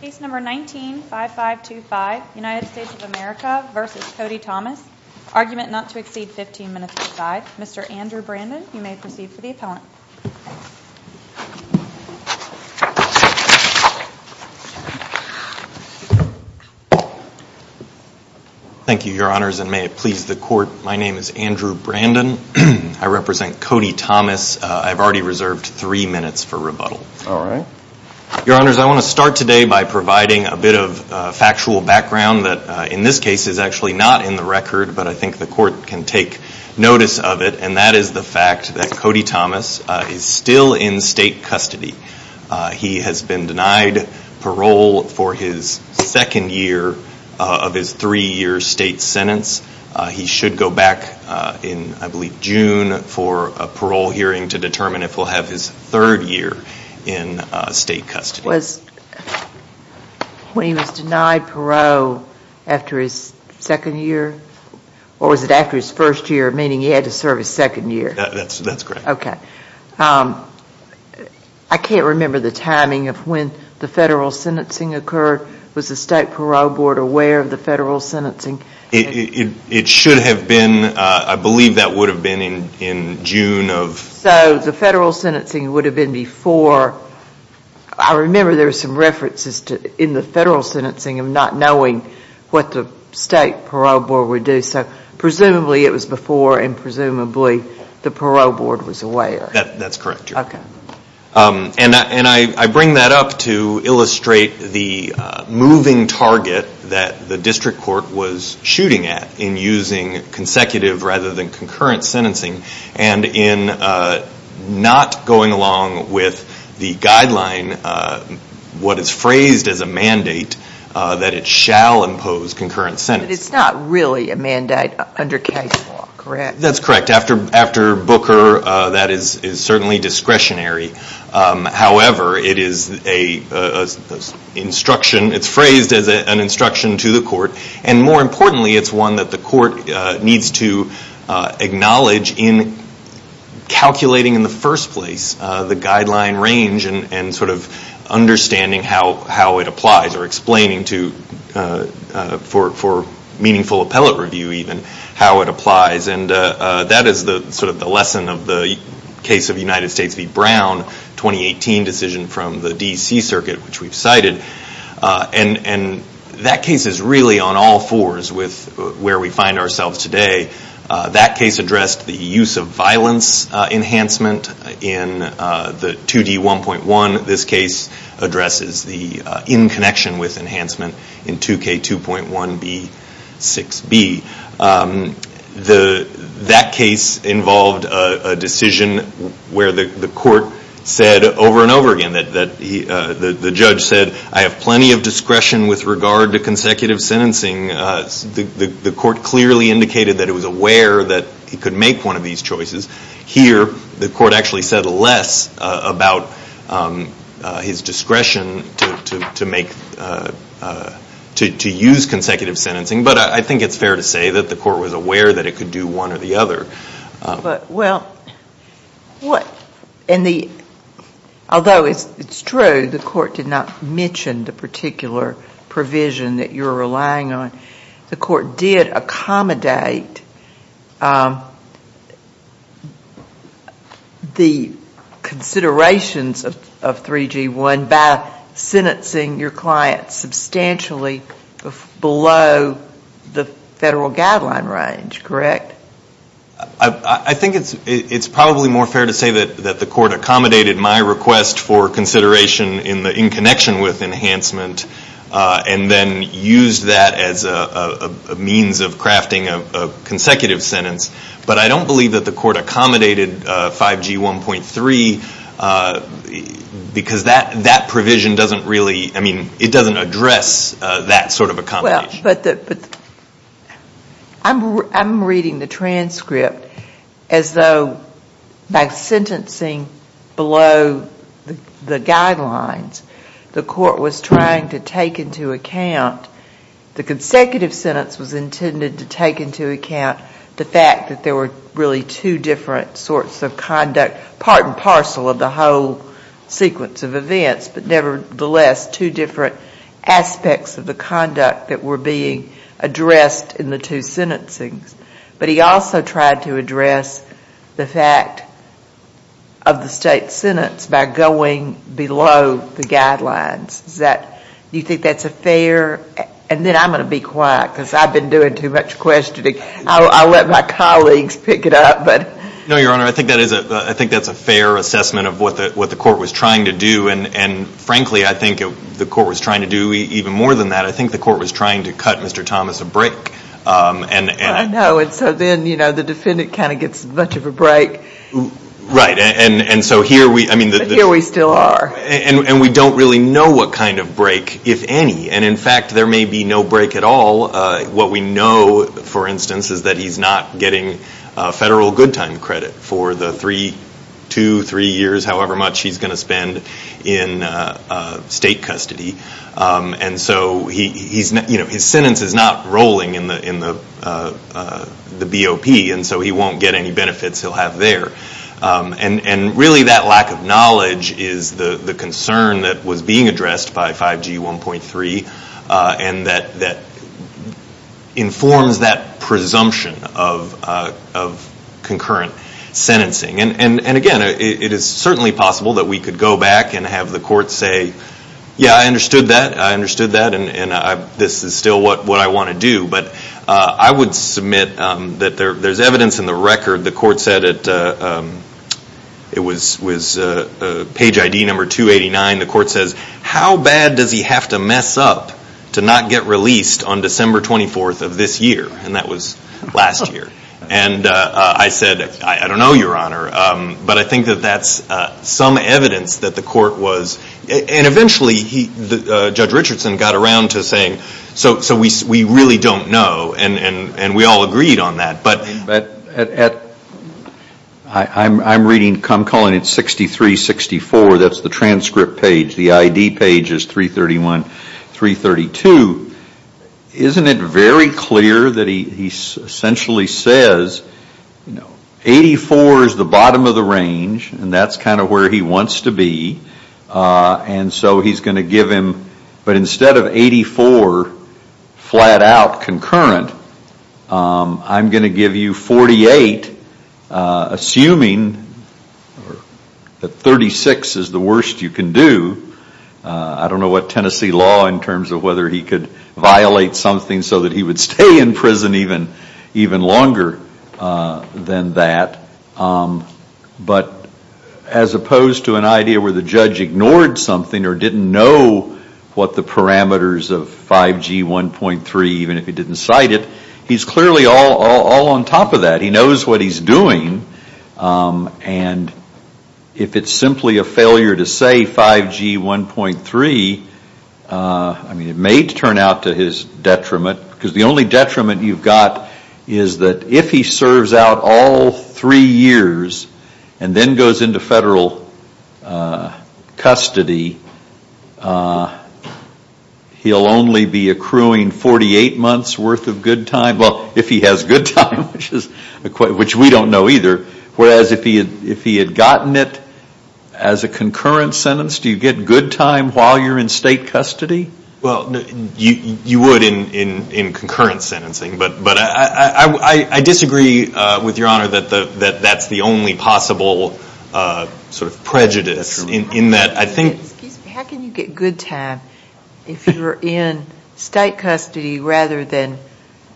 Case number 19-5525, United States of America v. Cody Thomas. Argument not to exceed 15 minutes per side. Mr. Andrew Brandon, you may proceed for the appellant. Thank you, your honors, and may it please the court, my name is Andrew Brandon. I represent Cody Thomas. I've already reserved three minutes for rebuttal. Your honors, I want to start today by providing a bit of factual background that in this case is actually not in the record, but I think the court can take notice of it. And that is the fact that Cody Thomas is still in state custody. He has been denied parole for his second year of his three year state sentence. He should go back in, I believe, June for a parole hearing to determine if he'll have his third year in state custody. When he was denied parole after his second year? Or was it after his first year, meaning he had to serve his second year? That's correct. Okay. I can't remember the timing of when the federal sentencing occurred. Was the state parole board aware of the federal sentencing? It should have been, I believe that would have been in June of... So the federal sentencing would have been before... I remember there were some references in the federal sentencing of not knowing what the state parole board would do. So presumably it was before and presumably the parole board was aware. That's correct, your honor. Okay. And I bring that up to illustrate the moving target that the district court was shooting at in using consecutive rather than concurrent sentencing. And in not going along with the guideline, what is phrased as a mandate, that it shall impose concurrent sentences. But it's not really a mandate under case law, correct? That's correct. After Booker, that is certainly discretionary. However, it is phrased as an instruction to the court. And more importantly, it's one that the court needs to acknowledge in calculating in the first place, the guideline range and sort of understanding how it applies or explaining to, for meaningful appellate review even, how it applies. And that is sort of the lesson of the case of United States v. Brown, 2018 decision from the D.C. Circuit, which we've cited. And that case is really on all fours with where we find ourselves today. That case addressed the use of violence enhancement in the 2D1.1. This case addresses the in connection with enhancement in 2K2.1B6B. That case involved a decision where the court said over and over again that the judge said, I have plenty of discretion with regard to consecutive sentencing. The court clearly indicated that it was aware that he could make one of these choices. Here, the court actually said less about his discretion to use consecutive sentencing. But I think it's fair to say that the court was aware that it could do one or the other. Well, although it's true the court did not mention the particular provision that you're relying on, the court did accommodate the considerations of 3G1 by sentencing your client substantially below the federal guideline range, correct? I think it's probably more fair to say that the court accommodated my request for consideration in connection with enhancement and then used that as a means of crafting a consecutive sentence. But I don't believe that the court accommodated 5G1.3 because that provision doesn't really, I mean, it doesn't address that sort of accommodation. But I'm reading the transcript as though by sentencing below the guidelines, the court was trying to take into account, the consecutive sentence was intended to take into account the fact that there were really two different sorts of conduct, part and parcel of the whole sequence of events, but nevertheless, two different aspects of the conduct that were being addressed in the two sentencing. But he also tried to address the fact of the state sentence by going below the guidelines. Is that, do you think that's a fair, and then I'm going to be quiet because I've been doing too much questioning. I'll let my colleagues pick it up. No, Your Honor, I think that's a fair assessment of what the court was trying to do. And frankly, I think the court was trying to do even more than that. I think the court was trying to cut Mr. Thomas a break. I know. And so then, you know, the defendant kind of gets much of a break. Right. And so here we, I mean. But here we still are. And we don't really know what kind of break, if any. And in fact, there may be no break at all. What we know, for instance, is that he's not getting federal good time credit for the three, two, three years, however much he's going to spend in state custody. And so his sentence is not rolling in the BOP, and so he won't get any benefits he'll have there. And really that lack of knowledge is the concern that was being addressed by 5G 1.3 and that informs that presumption of concurrent sentencing. And again, it is certainly possible that we could go back and have the court say, yeah, I understood that, I understood that, and this is still what I want to do. But I would submit that there's evidence in the record. The court said it was page ID number 289. The court says, how bad does he have to mess up to not get released on December 24th of this year? And that was last year. And I said, I don't know, Your Honor, but I think that that's some evidence that the court was. And eventually Judge Richardson got around to saying, so we really don't know. And we all agreed on that. But I'm reading, I'm calling it 6364, that's the transcript page. The ID page is 331, 332. Isn't it very clear that he essentially says, you know, 84 is the bottom of the range, and that's kind of where he wants to be. And so he's going to give him, but instead of 84 flat out concurrent, I'm going to give you 48, assuming that 36 is the worst you can do. I don't know what Tennessee law in terms of whether he could violate something so that he would stay in prison even longer than that. But as opposed to an idea where the judge ignored something or didn't know what the parameters of 5G 1.3, even if he didn't cite it, he's clearly all on top of that. He knows what he's doing. And if it's simply a failure to say 5G 1.3, I mean, it may turn out to his detriment. Because the only detriment you've got is that if he serves out all three years and then goes into federal custody, he'll only be accruing 48 months worth of good time. Well, if he has good time, which we don't know either. Whereas if he had gotten it as a concurrent sentence, do you get good time while you're in state custody? Well, you would in concurrent sentencing. But I disagree with Your Honor that that's the only possible sort of prejudice in that I think. How can you get good time if you're in state custody rather than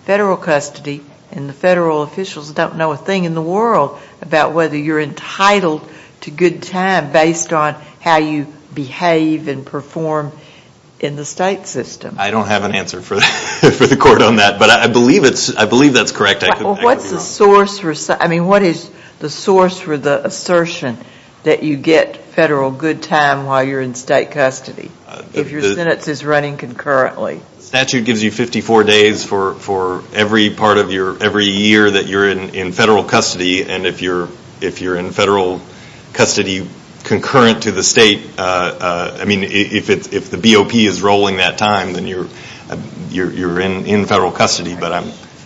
federal custody and the federal officials don't know a thing in the world about whether you're entitled to good time based on how you behave and perform in the state system? I don't have an answer for the court on that. But I believe that's correct. What's the source for the assertion that you get federal good time while you're in state custody if your sentence is running concurrently? The statute gives you 54 days for every year that you're in federal custody. And if you're in federal custody concurrent to the state, I mean, if the BOP is rolling that time, then you're in federal custody.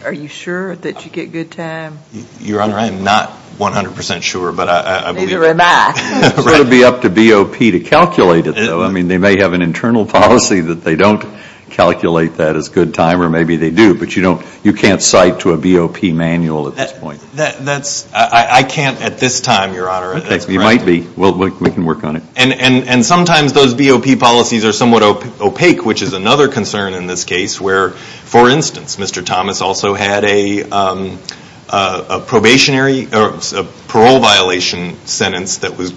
Are you sure that you get good time? Your Honor, I am not 100% sure. Neither am I. It would be up to BOP to calculate it, though. I mean, they may have an internal policy that they don't calculate that as good time, or maybe they do. But you can't cite to a BOP manual at this point. I can't at this time, Your Honor. You might be. Well, we can work on it. And sometimes those BOP policies are somewhat opaque, which is another concern in this case, where, for instance, Mr. Thomas also had a probationary or parole violation sentence that was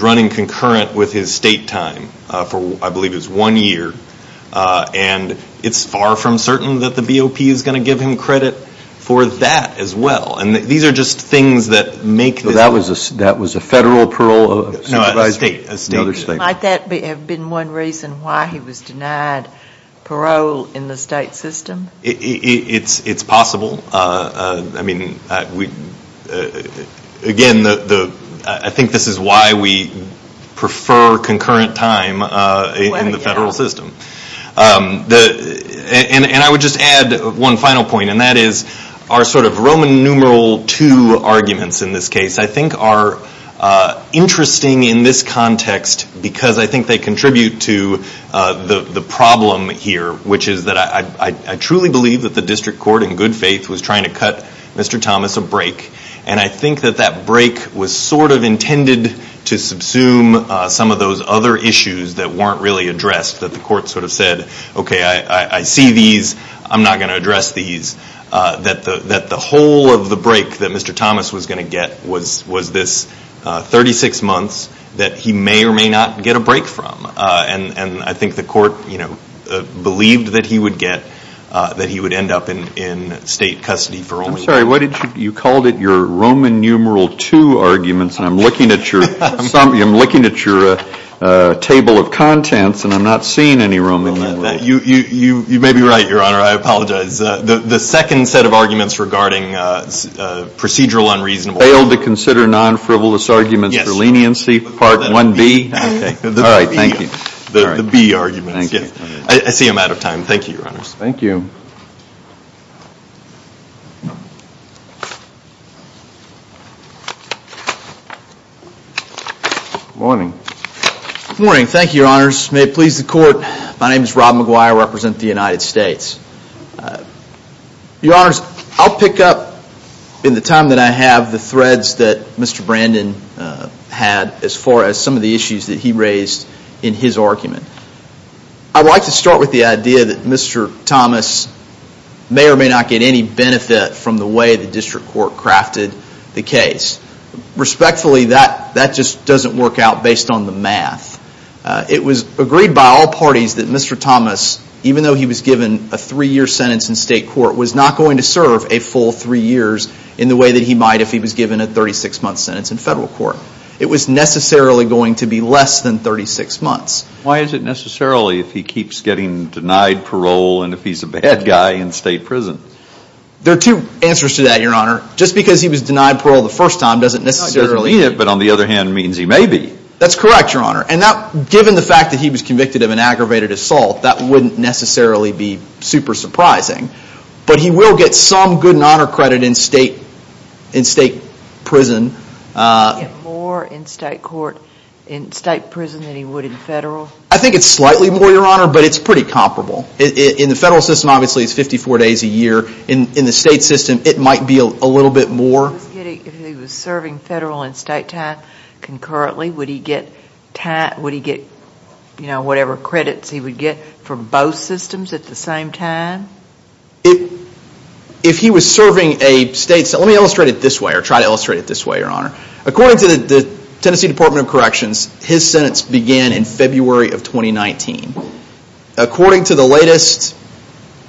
running concurrent with his state time for I believe it was one year. And it's far from certain that the BOP is going to give him credit for that as well. And these are just things that make this. So that was a federal parole? No, a state. Might that have been one reason why he was denied parole in the state system? It's possible. I mean, again, I think this is why we prefer concurrent time in the federal system. And I would just add one final point, and that is our sort of Roman numeral II arguments in this case, I think, are interesting in this context because I think they contribute to the problem here, which is that I truly believe that the district court in good faith was trying to cut Mr. Thomas a break. And I think that that break was sort of intended to subsume some of those other issues that weren't really addressed, that the court sort of said, okay, I see these. I'm not going to address these. That the whole of the break that Mr. Thomas was going to get was this 36 months that he may or may not get a break from. And I think the court believed that he would get, that he would end up in state custody for only that. I'm sorry. You called it your Roman numeral II arguments, and I'm looking at your table of contents, and I'm not seeing any Roman numeral II. You may be right, Your Honor. I apologize. The second set of arguments regarding procedural unreasonable. Failed to consider non-frivolous arguments for leniency, part 1B. All right. Thank you. The B arguments. I see I'm out of time. Thank you, Your Honors. Thank you. Good morning. Good morning. Thank you, Your Honors. May it please the Court. My name is Rob McGuire. I represent the United States. Your Honors, I'll pick up in the time that I have the threads that Mr. Brandon had as far as some of the issues that he raised in his argument. I'd like to start with the idea that Mr. Thomas may or may not get any benefit from the way the district court crafted the case. Respectfully, that just doesn't work out based on the math. It was agreed by all parties that Mr. Thomas, even though he was given a three-year sentence in state court, was not going to serve a full three years in the way that he might if he was given a 36-month sentence in federal court. It was necessarily going to be less than 36 months. Why is it necessarily if he keeps getting denied parole and if he's a bad guy in state prison? There are two answers to that, Your Honor. Just because he was denied parole the first time doesn't necessarily mean it. It doesn't mean it, but on the other hand means he may be. That's correct, Your Honor. Given the fact that he was convicted of an aggravated assault, that wouldn't necessarily be super surprising. But he will get some good and honor credit in state prison. More in state prison than he would in federal? I think it's slightly more, Your Honor, but it's pretty comparable. In the federal system, obviously, it's 54 days a year. In the state system, it might be a little bit more. If he was serving federal and state time concurrently, would he get whatever credits he would get from both systems at the same time? If he was serving a state – let me illustrate it this way or try to illustrate it this way, Your Honor. According to the Tennessee Department of Corrections, his sentence began in February of 2019. According to the latest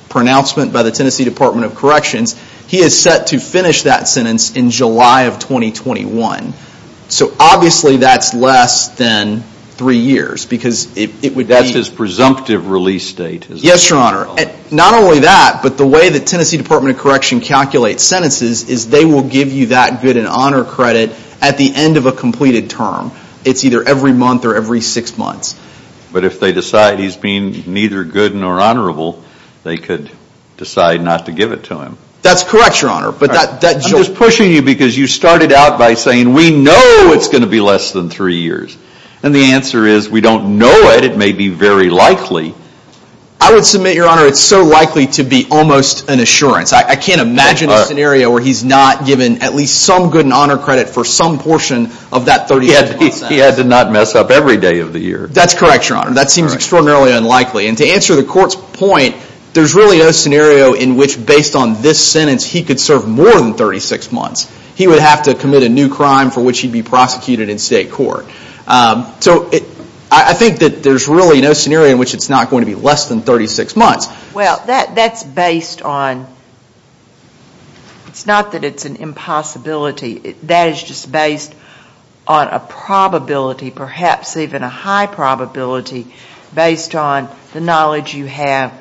pronouncement by the Tennessee Department of Corrections, he is set to finish that sentence in July of 2021. So obviously, that's less than three years because it would be – That's his presumptive release date. Yes, Your Honor. Not only that, but the way the Tennessee Department of Correction calculates sentences is they will give you that good and honor credit at the end of a completed term. It's either every month or every six months. But if they decide he's being neither good nor honorable, they could decide not to give it to him. That's correct, Your Honor. I'm just pushing you because you started out by saying we know it's going to be less than three years. And the answer is we don't know it. It may be very likely. I would submit, Your Honor, it's so likely to be almost an assurance. I can't imagine a scenario where he's not given at least some good and honor credit for some portion of that 31st sentence. He had to not mess up every day of the year. That's correct, Your Honor. That seems extraordinarily unlikely. And to answer the court's point, there's really no scenario in which, based on this sentence, he could serve more than 36 months. He would have to commit a new crime for which he'd be prosecuted in state court. So I think that there's really no scenario in which it's not going to be less than 36 months. Well, that's based on, it's not that it's an impossibility. That is just based on a probability, perhaps even a high probability, based on the knowledge you have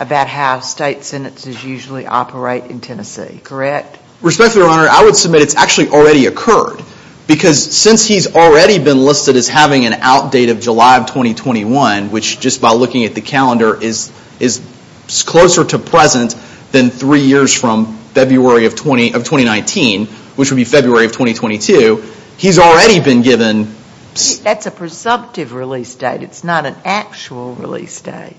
about how state sentences usually operate in Tennessee. Correct? Respectfully, Your Honor, I would submit it's actually already occurred. Because since he's already been listed as having an outdate of July of 2021, which just by looking at the calendar is closer to present than three years from February of 2019, which would be February of 2022, he's already been given... That's a presumptive release date. It's not an actual release date.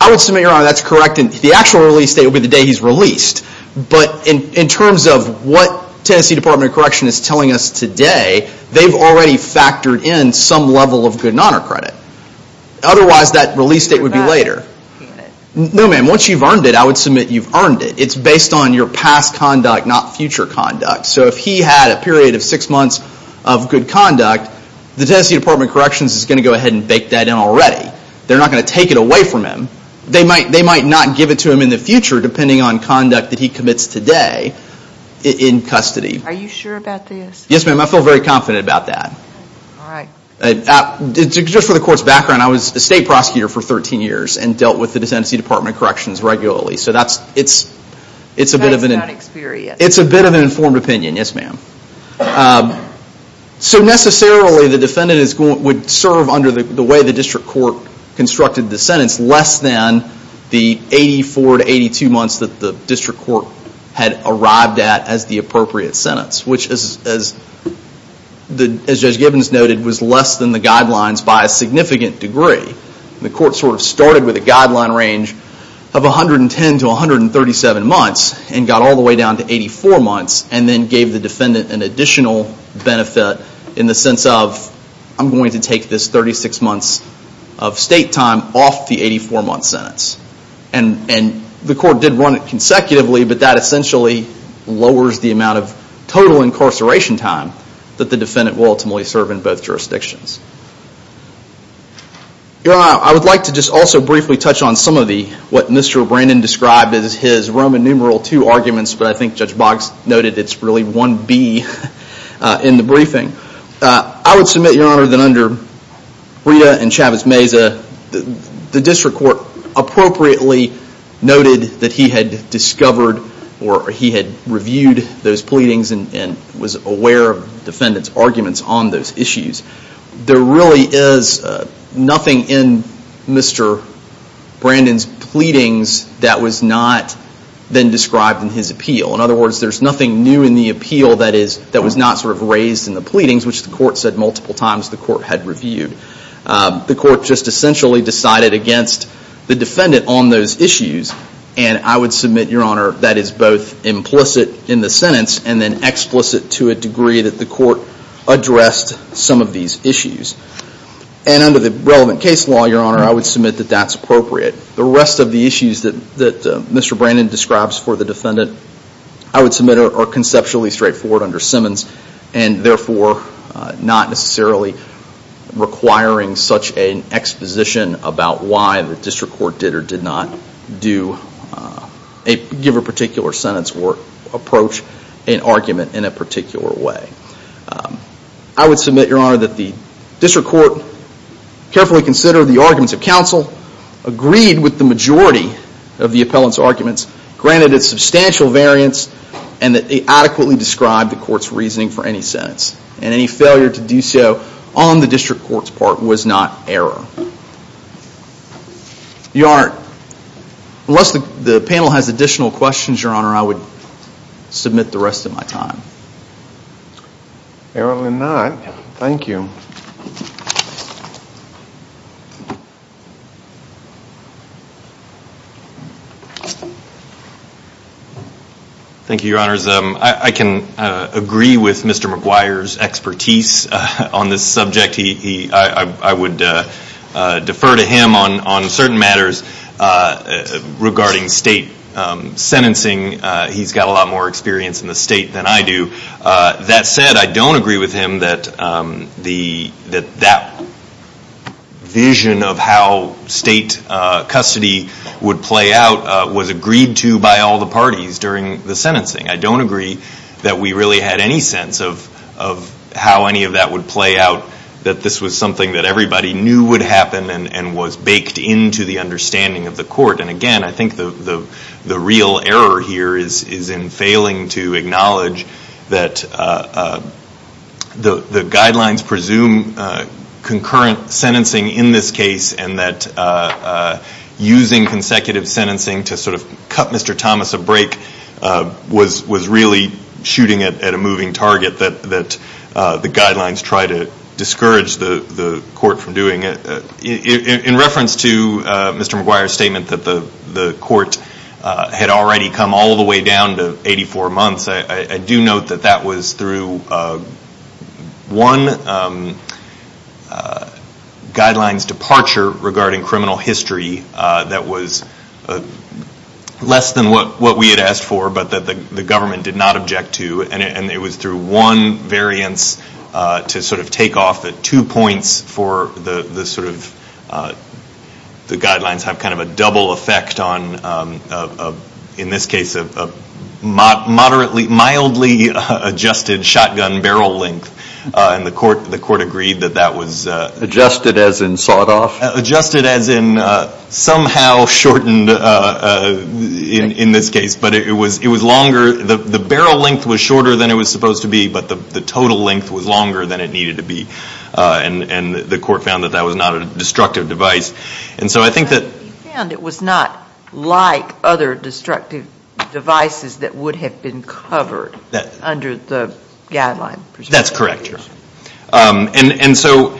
I would submit, Your Honor, that's correct. The actual release date would be the day he's released. But in terms of what Tennessee Department of Correction is telling us today, they've already factored in some level of good and honor credit. Otherwise, that release date would be later. No, ma'am. Once you've earned it, I would submit you've earned it. It's based on your past conduct, not future conduct. So if he had a period of six months of good conduct, the Tennessee Department of Corrections is going to go ahead and bake that in already. They're not going to take it away from him. They might not give it to him in the future depending on conduct that he commits today in custody. Are you sure about this? Yes, ma'am. I feel very confident about that. All right. Just for the court's background, I was a state prosecutor for 13 years and dealt with the Tennessee Department of Corrections regularly. That is not experience. It's a bit of an informed opinion. Yes, ma'am. So necessarily, the defendant would serve under the way the district court constructed the sentence less than the 84 to 82 months that the district court had arrived at as the appropriate sentence, which, as Judge Gibbons noted, was less than the guidelines by a significant degree. The court sort of started with a guideline range of 110 to 137 months and got all the way down to 84 months and then gave the defendant an additional benefit in the sense of I'm going to take this 36 months of state time off the 84-month sentence. And the court did run it consecutively, but that essentially lowers the amount of total incarceration time that the defendant will ultimately serve in both jurisdictions. Your Honor, I would like to just also briefly touch on some of the what Mr. Brandon described as his Roman numeral two arguments, but I think Judge Boggs noted it's really one B in the briefing. I would submit, Your Honor, that under Rita and Chavez Meza, the district court appropriately noted that he had discovered or he had reviewed those pleadings and was aware of the defendant's arguments on those issues. There really is nothing in Mr. Brandon's pleadings that was not then described in his appeal. In other words, there's nothing new in the appeal that was not sort of raised in the pleadings, which the court said multiple times the court had reviewed. The court just essentially decided against the defendant on those issues, and I would submit, Your Honor, that is both implicit in the sentence and then explicit to a degree that the court addressed some of these issues. And under the relevant case law, Your Honor, I would submit that that's appropriate. The rest of the issues that Mr. Brandon describes for the defendant, I would submit are conceptually straightforward under Simmons and therefore not necessarily requiring such an exposition about why the district court did or did not give a particular sentence or approach an argument in a particular way. I would submit, Your Honor, that the district court carefully considered the arguments of counsel, agreed with the majority of the appellant's arguments, granted a substantial variance, and that they adequately described the court's reasoning for any sentence. And any failure to do so on the district court's part was not error. Your Honor, unless the panel has additional questions, Your Honor, I would submit the rest of my time. Error will not. Thank you. Thank you, Your Honors. I can agree with Mr. McGuire's expertise on this subject. I would defer to him on certain matters regarding state sentencing. He's got a lot more experience in the state than I do. That said, I don't agree with him that that vision of how state custody would play out was agreed to by all the parties during the sentencing. I don't agree that we really had any sense of how any of that would play out, that this was something that everybody knew would happen and was baked into the understanding of the court. And again, I think the real error here is in failing to acknowledge that the guidelines presume concurrent sentencing in this case and that using consecutive sentencing to sort of cut Mr. Thomas a break was really shooting at a moving target that the guidelines try to discourage the court from doing. In reference to Mr. McGuire's statement that the court had already come all the way down to 84 months, I do note that that was through one guideline's departure regarding criminal history that was less than what we had asked for but that the government did not object to. And it was through one variance to sort of take off at two points for the guidelines have kind of a double effect on, in this case, a mildly adjusted shotgun barrel length. And the court agreed that that was... Adjusted as in sawed off? Adjusted as in somehow shortened in this case. But it was longer. The barrel length was shorter than it was supposed to be, but the total length was longer than it needed to be. And the court found that that was not a destructive device. And so I think that... But he found it was not like other destructive devices that would have been covered under the guideline. That's correct, yes. And so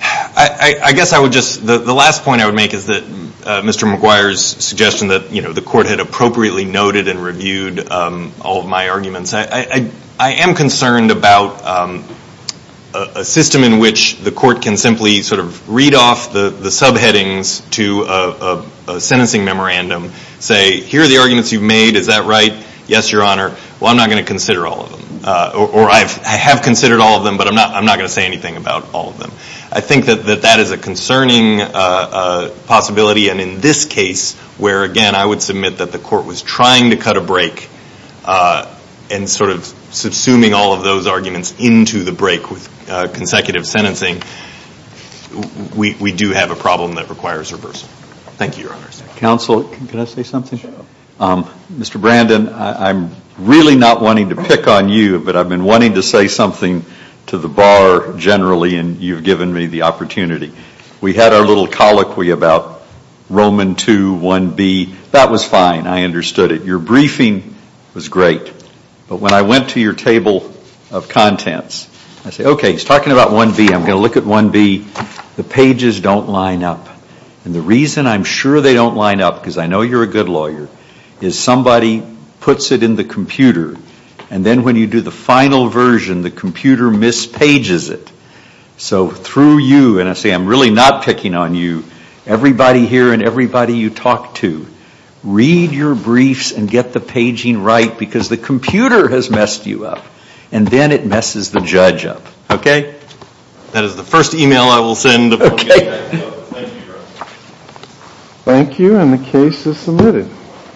I guess I would just... The last point I would make is that Mr. McGuire's suggestion that the court had appropriately noted and reviewed all of my arguments. I am concerned about a system in which the court can simply sort of read off the subheadings to a sentencing memorandum, say, here are the arguments you've made. Is that right? Yes, Your Honor. Well, I'm not going to consider all of them. Or I have considered all of them, but I'm not going to say anything about all of them. I think that that is a concerning possibility. And in this case where, again, I would submit that the court was trying to cut a break and sort of subsuming all of those arguments into the break with consecutive sentencing, we do have a problem that requires reversal. Thank you, Your Honor. Counsel, can I say something? Sure. Mr. Brandon, I'm really not wanting to pick on you, but I've been wanting to say something to the bar generally, and you've given me the opportunity. We had our little colloquy about Roman 2, 1B. That was fine. I understood it. Your briefing was great. But when I went to your table of contents, I said, okay, he's talking about 1B. I'm going to look at 1B. The pages don't line up. And the reason I'm sure they don't line up, because I know you're a good lawyer, is somebody puts it in the computer, and then when you do the final version, the computer mispages it. So through you, and I say I'm really not picking on you, everybody here and everybody you talk to, read your briefs and get the paging right, because the computer has messed you up. And then it messes the judge up. Okay? That is the first email I will send. Okay. Thank you, Your Honor. Thank you, and the case is submitted.